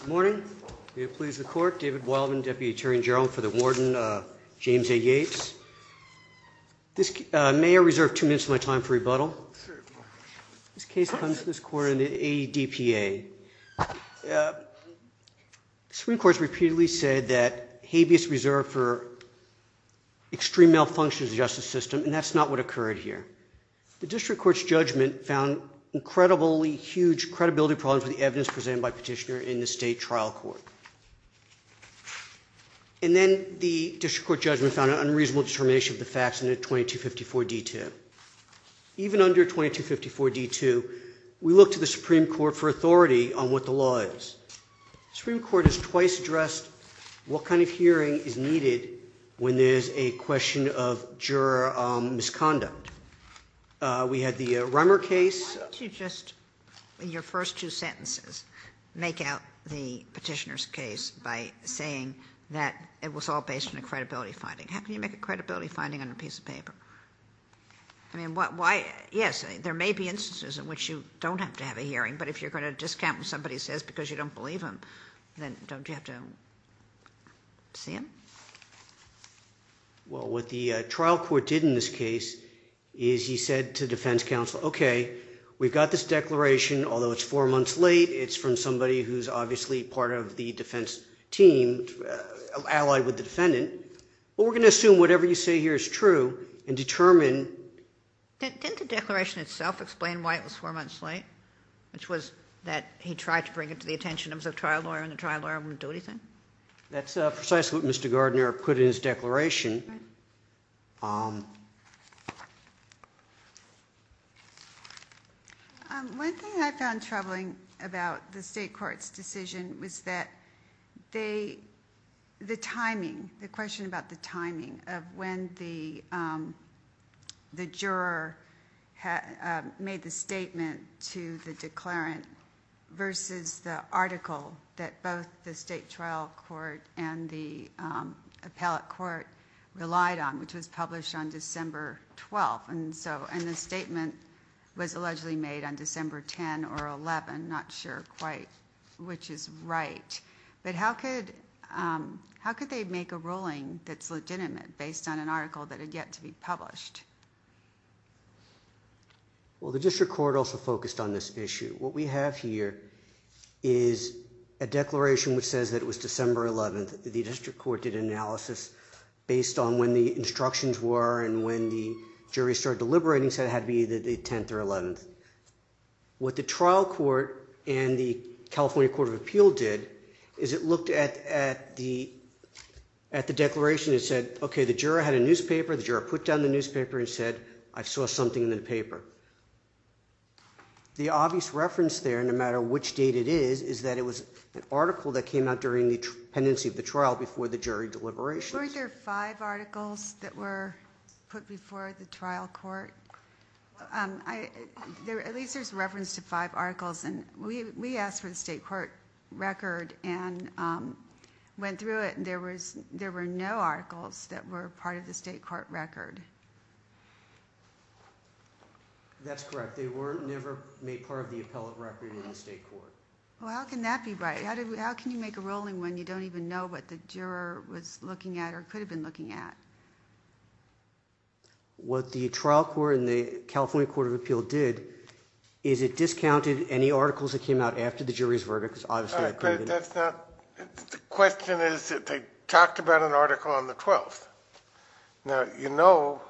Good morning. May it please the court, David Wildman, Deputy Attorney General for the Warden, James A. Yates. May I reserve two minutes of my time for rebuttal? This case comes to this court in the ADPA. The Supreme Court has repeatedly said that habeas reserved for extreme malfunctions of the justice system and that's not what occurred here. The District Court's judgment found incredibly huge credibility problems with the evidence presented by Petitioner in the State Trial Court. And then the District Court judgment found an unreasonable determination of the facts in a 2254 D2. Even under 2254 D2, we look to the Supreme Court for authority on what the law is. The Supreme Court has twice addressed what kind of hearing is needed when there's a question of juror misconduct. We had the Rummer case. Why don't you just, in your first two sentences, make out the Petitioner's case by saying that it was all based on a credibility finding? How can you make a credibility finding on a piece of paper? I mean, why? Yes, there may be instances in which you don't have to have a hearing, but if you're going to discount what somebody says because you don't believe them, then don't you have to see them? Well, what the trial court did in this case is he said to defense counsel, okay, we've got this declaration, although it's four months late, it's from somebody who's obviously part of the defense team, allied with the defendant, but we're going to assume whatever you say here is true and determine... Didn't the declaration itself explain why it was four months late? Which was that he tried to bring it to the attention of the trial lawyer and the trial lawyer wouldn't do anything? That's precisely what Mr. Gardner put in his declaration. One thing I found troubling about the state court's decision was that they, the timing, the question about the timing of when the the juror had made the trial court and the appellate court relied on, which was published on December 12th, and so, and the statement was allegedly made on December 10 or 11, not sure quite which is right, but how could, how could they make a ruling that's legitimate based on an article that had yet to be published? Well, the district court also focused on this issue. What we have here is a declaration which says that it was December 11th. The district court did analysis based on when the instructions were and when the jury started deliberating, said it had to be either the 10th or 11th. What the trial court and the California Court of Appeal did is it looked at the, at the declaration. It said, okay, the juror had a newspaper. The juror put down the newspaper and said, I saw something in the paper. The obvious reference there, no matter which date it is, is that it was an article that came out during the pendency of the trial before the jury deliberations. Weren't there five articles that were put before the trial court? At least there's reference to five articles, and we asked for the state court record and went through it, and there was, there were no articles that were part of the state court record. That's correct. They were never made part of the appellate record in the state court. Well, how can that be right? How can you make a rolling when you don't even know what the juror was looking at or could have been looking at? What the trial court and the California Court of Appeal did is it discounted any articles that came out after the jury's verdict. The question is that they talked about an article on the 12th. Now, you know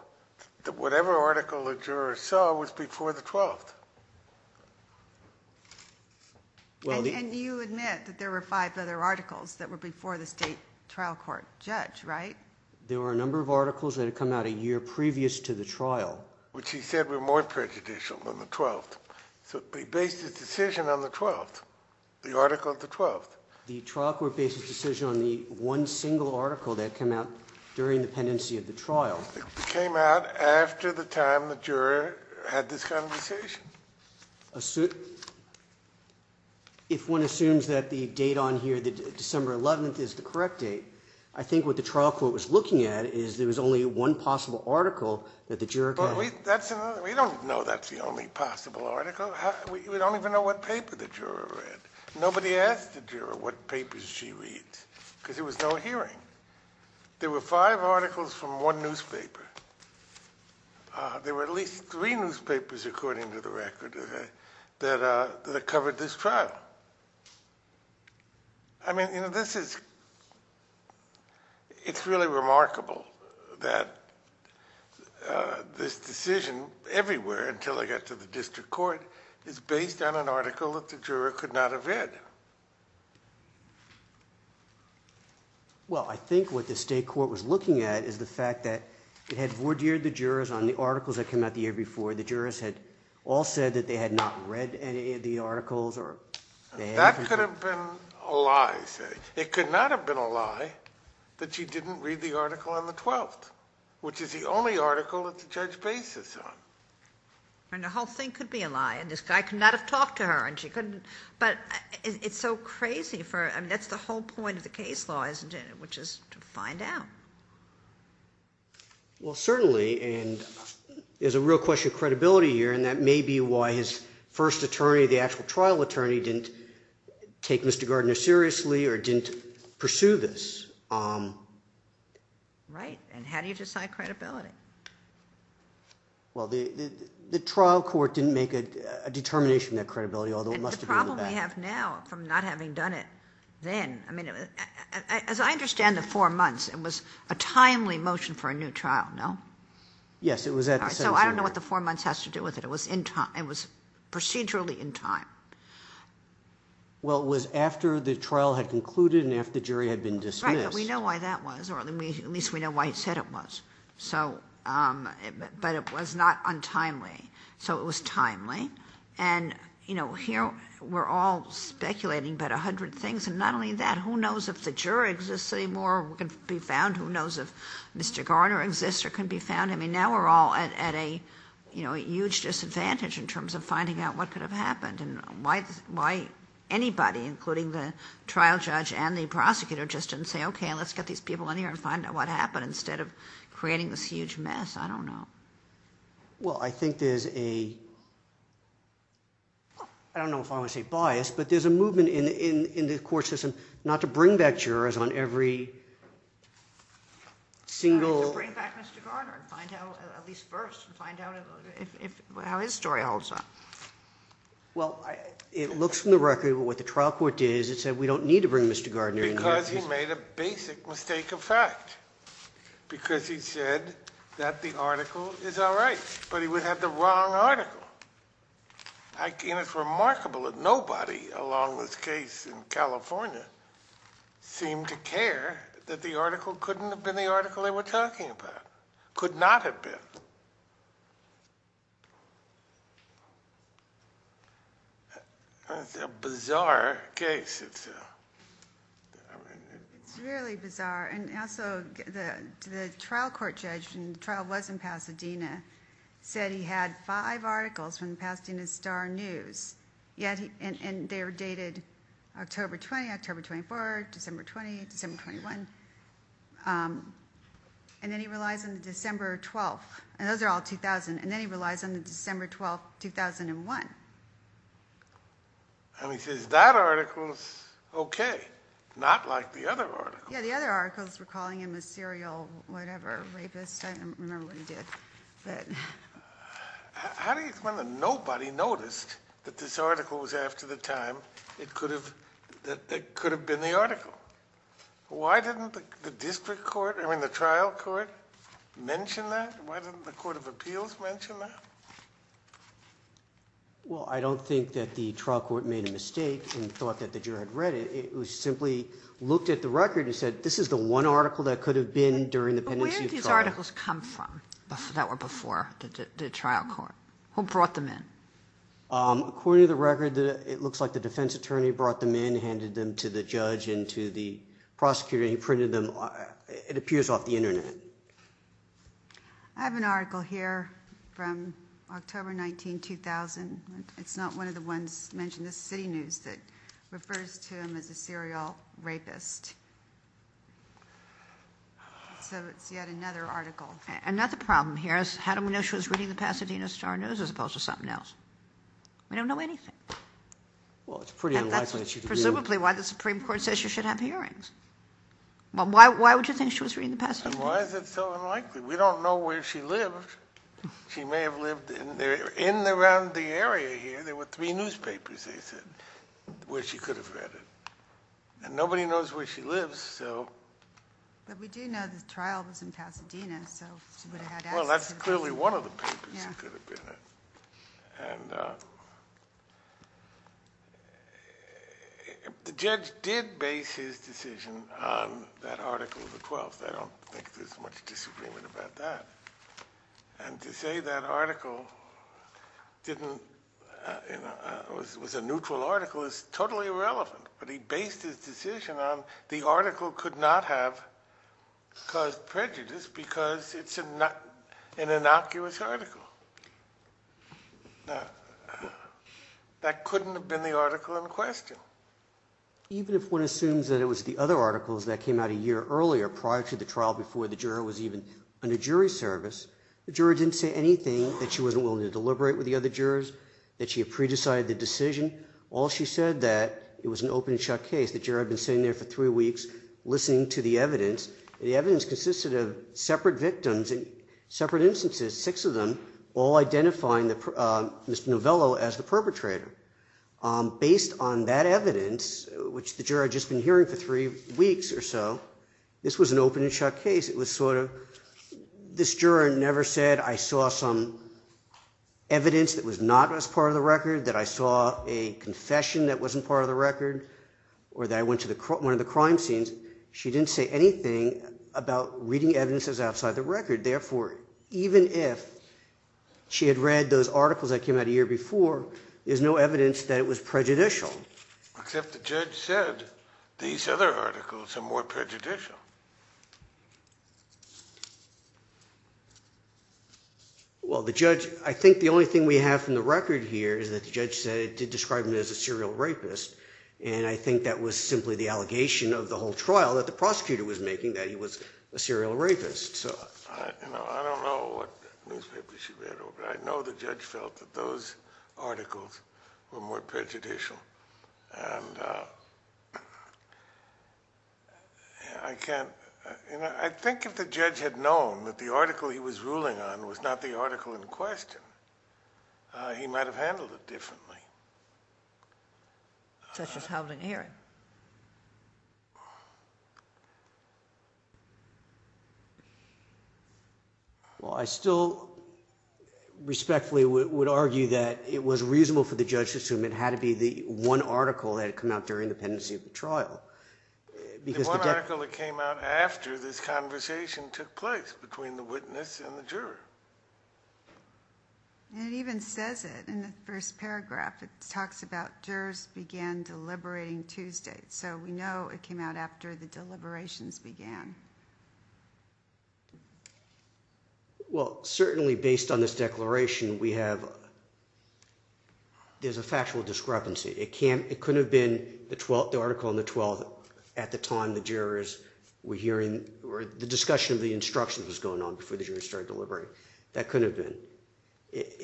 that whatever article the juror saw was before the 12th. And you admit that there were five other articles that were before the state trial court judge, right? There were a number of articles that had come out a year previous to the trial. Which he said were more prejudicial than the 12th. So he based his decision on the 12th, the article of the 12th. The trial court based its decision on the one single article that came out during the pendency of the trial. It came out after the time the juror had this conversation. If one assumes that the date on here, the December 11th, is the correct date, I think what the trial court was looking at is there was only one possible article that the juror could have... We don't know that's the only possible article. We don't even know what paper the juror read. Nobody asked the juror what papers she reads. Because there was no hearing. There were five articles from one newspaper. There were at least three newspapers, according to the record, that covered this trial. I mean, you know, this is... It's really remarkable that this decision, everywhere until I got to the district court, is based on an article that the juror could not have read. Well, I think what the state court was looking at is the fact that it had vordered the jurors on the articles that came out the year before. The jurors had all said that they had not read any of the articles or... That could have been a lie. It could not have been a lie that she didn't read the article on the 12th, which is the only article that the judge bases on. And the whole thing could be a lie, and this guy could not have talked to her, and she couldn't... But it's so crazy for... I mean, that's the whole point of the case law, isn't it? Which is to find out. Well, certainly, and there's a real question of credibility here, and that may be why his first attorney, the actual trial attorney, didn't take Mr. Gardner seriously or didn't pursue this. Right, and how do you decide that credibility? Well, the trial court didn't make a determination of that credibility, although it must have been in the past. And the problem we have now from not having done it then, I mean, as I understand the four months, it was a timely motion for a new trial, no? Yes, it was at the sentencing... So I don't know what the four months has to do with it. It was in time. It was procedurally in time. Well, it was after the trial had concluded and after the jury had been dismissed. Right, but we know why that was, or at least we know why he said it was. So, but it was not untimely. So it was timely. And, you know, here we're all speculating about a hundred things, and not only that, who knows if the juror exists anymore or can be found? Who knows if Mr. Gardner exists or can be found? I mean, now we're all at a, you know, a huge disadvantage in terms of finding out what could have happened. And why anybody, including the trial judge and the prosecutor, just didn't say, okay, let's get these people in here and find out what happened instead of creating this huge mess. I don't know. Well, I think there's a... I don't know if I want to say bias, but there's a movement in the court system not to bring back jurors on every single... Not to bring back Mr. Gardner and find out, at least first, find out how his story holds up. Well, it looks from the record, what the trial court did is it said we don't need to bring Mr. Gardner in here... Because he made a basic mistake of fact. Because he said that the article is all right, but he would have the wrong article. I mean, it's remarkable that nobody along this case in California seemed to care that the article couldn't have been the article they were talking about. Could And also, the trial court judge, and the trial was in Pasadena, said he had five articles from Pasadena Star News, and they were dated October 20, October 24, December 20, December 21. And then he relies on the December 12. And those are all 2000. And then he relies on the December 12, 2001. And he says, that article is okay. Not like the other articles. Yeah, the other articles were calling him a serial, whatever, rapist. I don't remember what he did. How do you explain that nobody noticed that this article was after the time that it could have been the article? Why didn't the district court, I mean the trial court, mention that? Why didn't the court of appeals mention that? Well, I don't think that the trial court made a mistake and thought that the juror had read it. It was simply looked at the record and said, this is the one article that could have been during the pendency trial. But where did these articles come from that were before the trial court? Who brought them in? According to the record, it looks like the defense attorney brought them in, handed them to the judge and to the prosecutor, and he printed them. It appears off the internet. I have an article here from October 19, 2000. It's not one of the ones mentioned. This is city news that refers to him as a serial rapist. So it's yet another article. Another problem here is how do we know she was reading the Pasadena Star News as opposed to something else? We don't know anything. And that's presumably why the Supreme Court says she should have hearings. Why would you think she was reading the Pasadena? And why is it so unlikely? We don't know where she lived. She may have lived in and around the area here. There were three newspapers, they said, where she could have read it. And nobody knows where she lives, so. But we do know the trial was in Pasadena, so she would have had access to the papers. Well, that's clearly one of the papers it could have been in. And the judge did base his decision on that article of the 12th. I don't think there's much disagreement about that. And to say that article was a neutral article is totally irrelevant, but he based his decision on the article could not have caused prejudice because it's an innocuous article. That couldn't have been the article in question. Even if one assumes that it was the other articles that came out a year earlier, prior to the trial, before the juror was even under jury service, the juror didn't say anything that she wasn't willing to deliberate with the other jurors, that she had pre-decided the decision. All she said that it was an open and shut case. The juror had been sitting there for three weeks listening to the evidence. The evidence consisted of separate victims in separate instances, six of them, all identifying Mr. Novello as the perpetrator. Based on that evidence, which the juror had just been hearing for three weeks or so, this was an open and shut case. It was sort of, this juror never said, I saw some evidence that was not as part of the record, that I saw a confession that wasn't part of the record, or that I went to one of the crime scenes. She didn't say anything about reading evidences outside the record. Therefore, even if she had read those articles that came out a year before, there's no evidence that it was prejudicial. Except the judge said these other articles are more prejudicial. Well, the judge, I think the only thing we have from the record here is that the judge said, described him as a serial rapist, and I think that was simply the allegation of the whole trial that the prosecutor was making, that he was a serial rapist. I don't know what newspapers she read, but I know the judge felt that those articles were more prejudicial. And I can't, I think if the judge had known that the article he was ruling on was not the article in question, he might have handled it differently. Such as Howland Aaron. Well, I still respectfully would argue that it was reasonable for the judge to assume it had to be the one article that had come out during the pendency of the trial. The one article that came out after this conversation took place between the witness and the juror. And it even says it in the first paragraph. It talks about jurors began deliberating Tuesday. So we know it came out after the deliberations began. Well, certainly based on this declaration, we have, there's a factual discrepancy. It couldn't have been the article on the 12th at the time the jurors were hearing, or the discussion of the instructions was going on before the jurors started deliberating. That couldn't have been.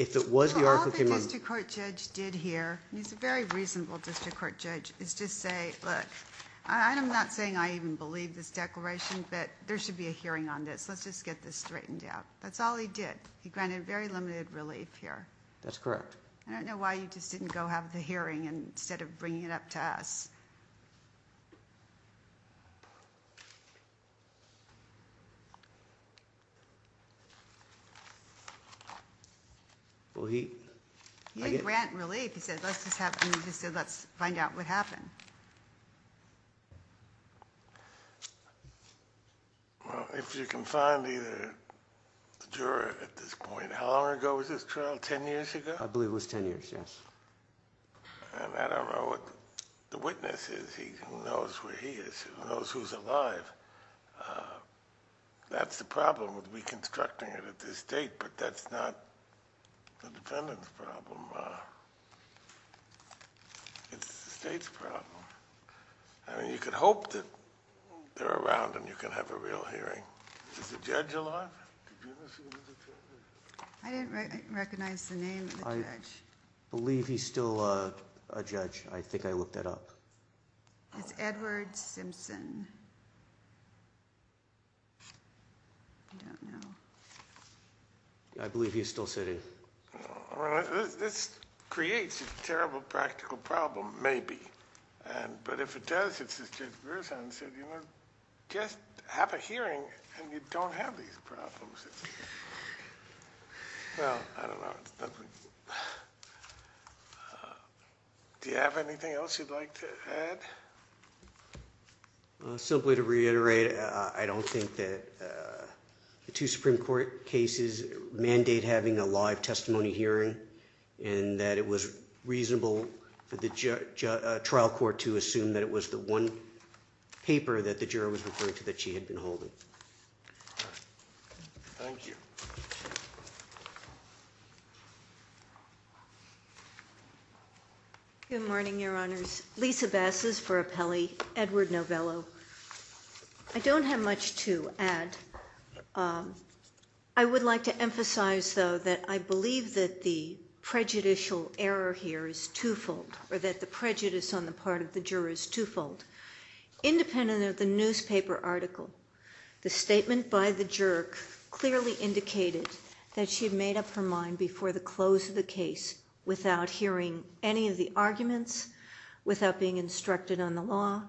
So all the district court judge did here, and he's a very reasonable district court judge, is just say, look, I'm not saying I even believe this declaration, but there should be a hearing on this. Let's just get this straightened out. That's all he did. He granted very limited relief here. That's correct. I don't know why you just didn't go have the hearing instead of bringing it up to us. He didn't grant relief. He said, let's just find out what happened. If you can find either the juror at this point, how long ago was this trial? Ten years ago? I believe it was ten years, yes. And I don't know what the witness is. Who knows where he is? Who knows who's alive? That's the problem with reconstructing it at this date, but that's not the defendant's problem. It's the state's problem. I mean, you can hope that they're around and you can have a real hearing. Is the judge alive? I didn't recognize the name of the judge. I believe he's still a judge. I think I looked that up. It's Edward Simpson. I don't know. I believe he's still sitting. This creates a terrible practical problem, maybe. But if it does, it's Judge Berzon. Just have a hearing and you don't have these problems. Well, I don't know. Do you have anything else you'd like to add? Simply to reiterate, I don't think that the two Supreme Court cases mandate having a live testimony hearing and that it was reasonable for the trial court to assume that it was the one paper that the juror was referring to that she had been holding. Thank you. Good morning, Your Honors. Lisa Bass is for appellee. Edward Novello. I don't have much to add. I would like to emphasize, though, that I believe that the prejudicial error here is twofold or that the prejudice on the part of the juror is twofold. Independent of the newspaper article, the statement by the juror clearly indicated that she had made up her mind before the close of the case without hearing any of the arguments, without being instructed on the law,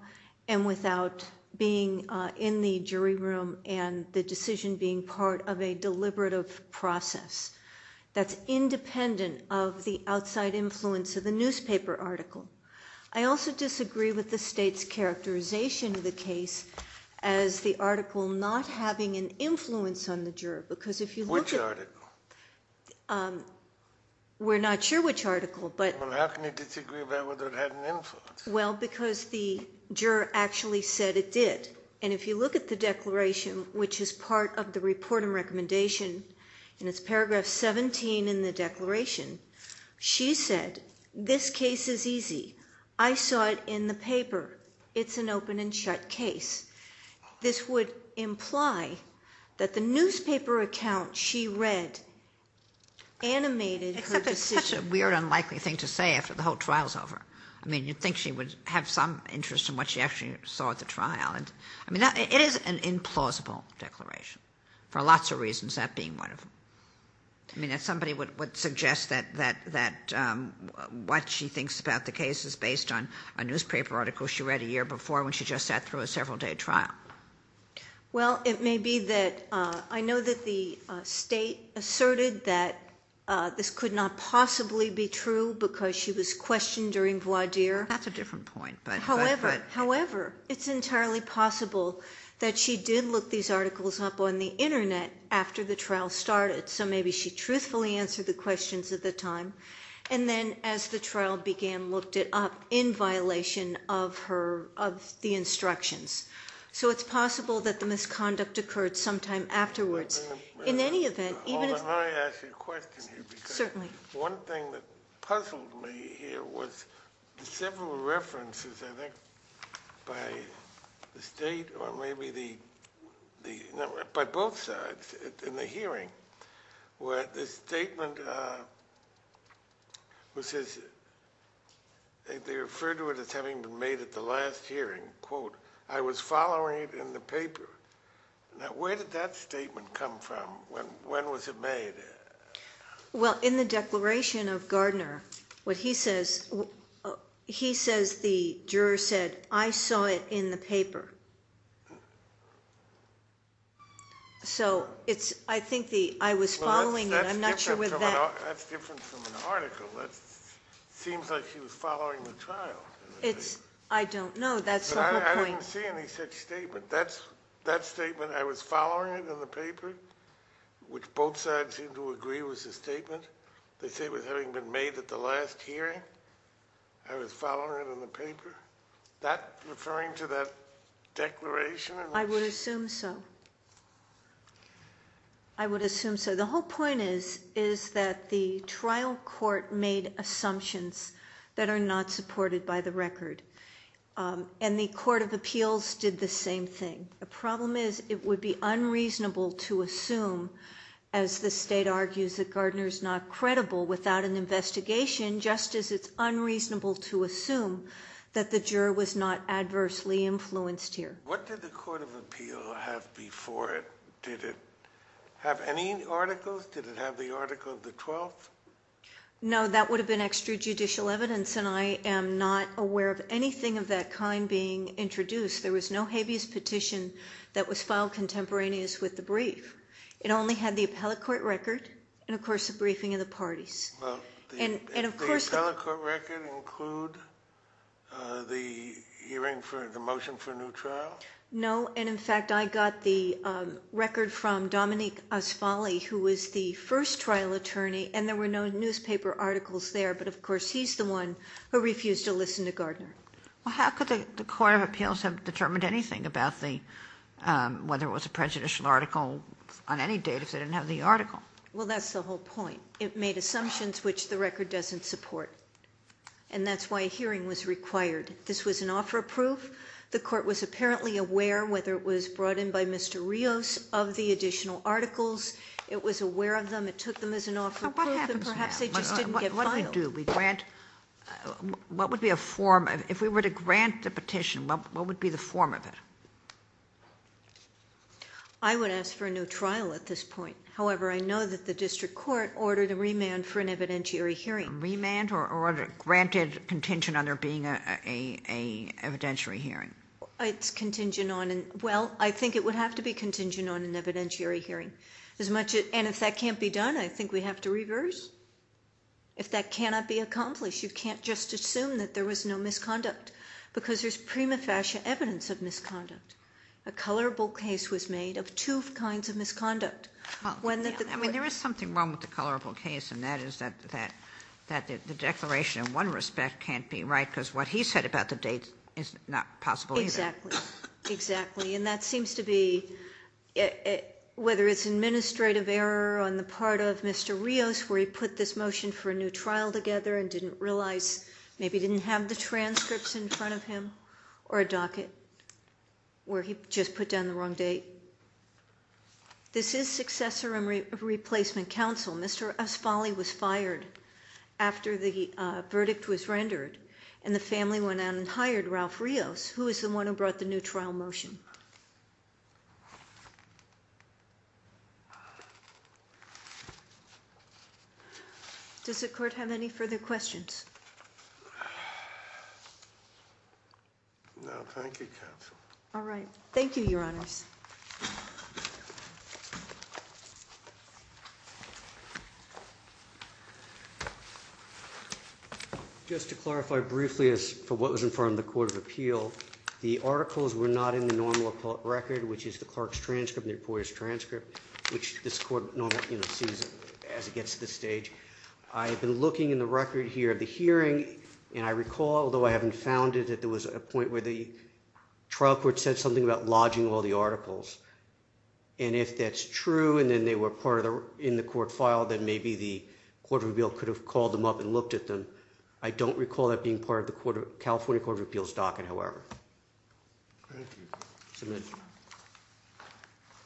and without being in the jury room and the decision being part of a deliberative process that's independent of the outside influence of the newspaper article. I also disagree with the state's characterization of the case as the article not having an influence on the juror, because if you look at it, we're not sure which article, but how can you disagree about whether it had an influence? Well, because the juror actually said it did. And if you look at the declaration, which is part of the report and recommendation, and it's paragraph 17 in the declaration, she said, this case is easy. I saw it in the paper. It's an open and shut case. This would imply that the newspaper account she read animated her decision. Except it's such a weird, unlikely thing to say after the whole trial's over. I mean, you'd think she would have some interest in what she actually saw at the trial. I mean, it is an implausible declaration for lots of reasons, that being one of them. I mean, somebody would suggest that what she thinks about the case is based on a newspaper article she read a year before when she just sat through a several-day trial. Well, it may be that I know that the state asserted that this could not possibly be true because she was questioned during voir dire. That's a different point. However, it's entirely possible that she did look these articles up on the Internet after the trial started, so maybe she truthfully answered the questions at the time. And then, as the trial began, looked it up in violation of the instructions. So it's possible that the misconduct occurred sometime afterwards. In any event, even if... Hold on, let me ask you a question here. Certainly. One thing that puzzled me here was several references, I think, by the state or maybe by both sides in the hearing, where the statement was, they referred to it as having been made at the last hearing. Quote, I was following it in the paper. Now, where did that statement come from? When was it made? Well, in the declaration of Gardner, what he says, he says the juror said, I saw it in the paper. So it's, I think the, I was following it, I'm not sure with that. That's different from an article. That seems like she was following the trial. It's, I don't know, that's the whole point. But I didn't see any such statement. That statement, I was following it in the paper, which both sides seemed to agree was a statement. They say it was having been made at the last hearing. I was following it in the paper. That referring to that declaration? I would assume so. I would assume so. The whole point is, is that the trial court made assumptions that are not supported by the record. And the Court of Appeals did the same thing. The problem is it would be unreasonable to assume, as the state argues that Gardner is not credible without an investigation, just as it's unreasonable to assume that the juror was not adversely influenced here. What did the Court of Appeal have before it? Did it have any articles? Did it have the article of the 12th? No, that would have been extrajudicial evidence, and I am not aware of anything of that kind being introduced. There was no habeas petition that was filed contemporaneous with the brief. It only had the appellate court record and, of course, the briefing of the parties. Well, did the appellate court record include the hearing for the motion for a new trial? No, and, in fact, I got the record from Dominique Asfali, who was the first trial attorney, and there were no newspaper articles there, but, of course, he's the one who refused to listen to Gardner. Well, how could the Court of Appeals have determined anything about whether it was a prejudicial article on any date if they didn't have the article? Well, that's the whole point. It made assumptions which the record doesn't support, and that's why a hearing was required. This was an offer of proof. The Court was apparently aware, whether it was brought in by Mr. Rios, of the additional articles. It was aware of them. It took them as an offer of proof, and perhaps they just didn't get filed. What happens now? What do we grant? What would be a form? If we were to grant the petition, what would be the form of it? I would ask for a new trial at this point. However, I know that the district court ordered a remand for an evidentiary hearing. A remand or granted contingent on there being an evidentiary hearing? Well, I think it would have to be contingent on an evidentiary hearing. And if that can't be done, I think we have to reverse. If that cannot be accomplished, you can't just assume that there was no misconduct, because there's prima facie evidence of misconduct. A colorable case was made of two kinds of misconduct. There is something wrong with the colorable case, and that is that the declaration in one respect can't be right, because what he said about the date is not possible either. Exactly. And that seems to be, whether it's administrative error on the part of Mr. Rios, where he put this motion for a new trial together and didn't realize, or a docket where he just put down the wrong date. This is successor and replacement counsel. Mr. Asfali was fired after the verdict was rendered, and the family went out and hired Ralph Rios, who is the one who brought the new trial motion. Does the court have any further questions? No, thank you, counsel. All right. Thank you, Your Honors. Just to clarify briefly as to what was in front of the Court of Appeal, the articles were not in the normal record, which is the clerk's transcript and the reporter's transcript, which this court normally sees as it gets to this stage. I've been looking in the record here of the hearing, and I recall, although I haven't found it, that there was a point where the trial court said something about lodging all the articles. And if that's true and then they were part of the court file, then maybe the Court of Appeal could have called them up and looked at them. I don't recall that being part of the California Court of Appeal's docket, however. Thank you. Submit.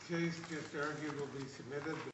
The case is arguably submitted.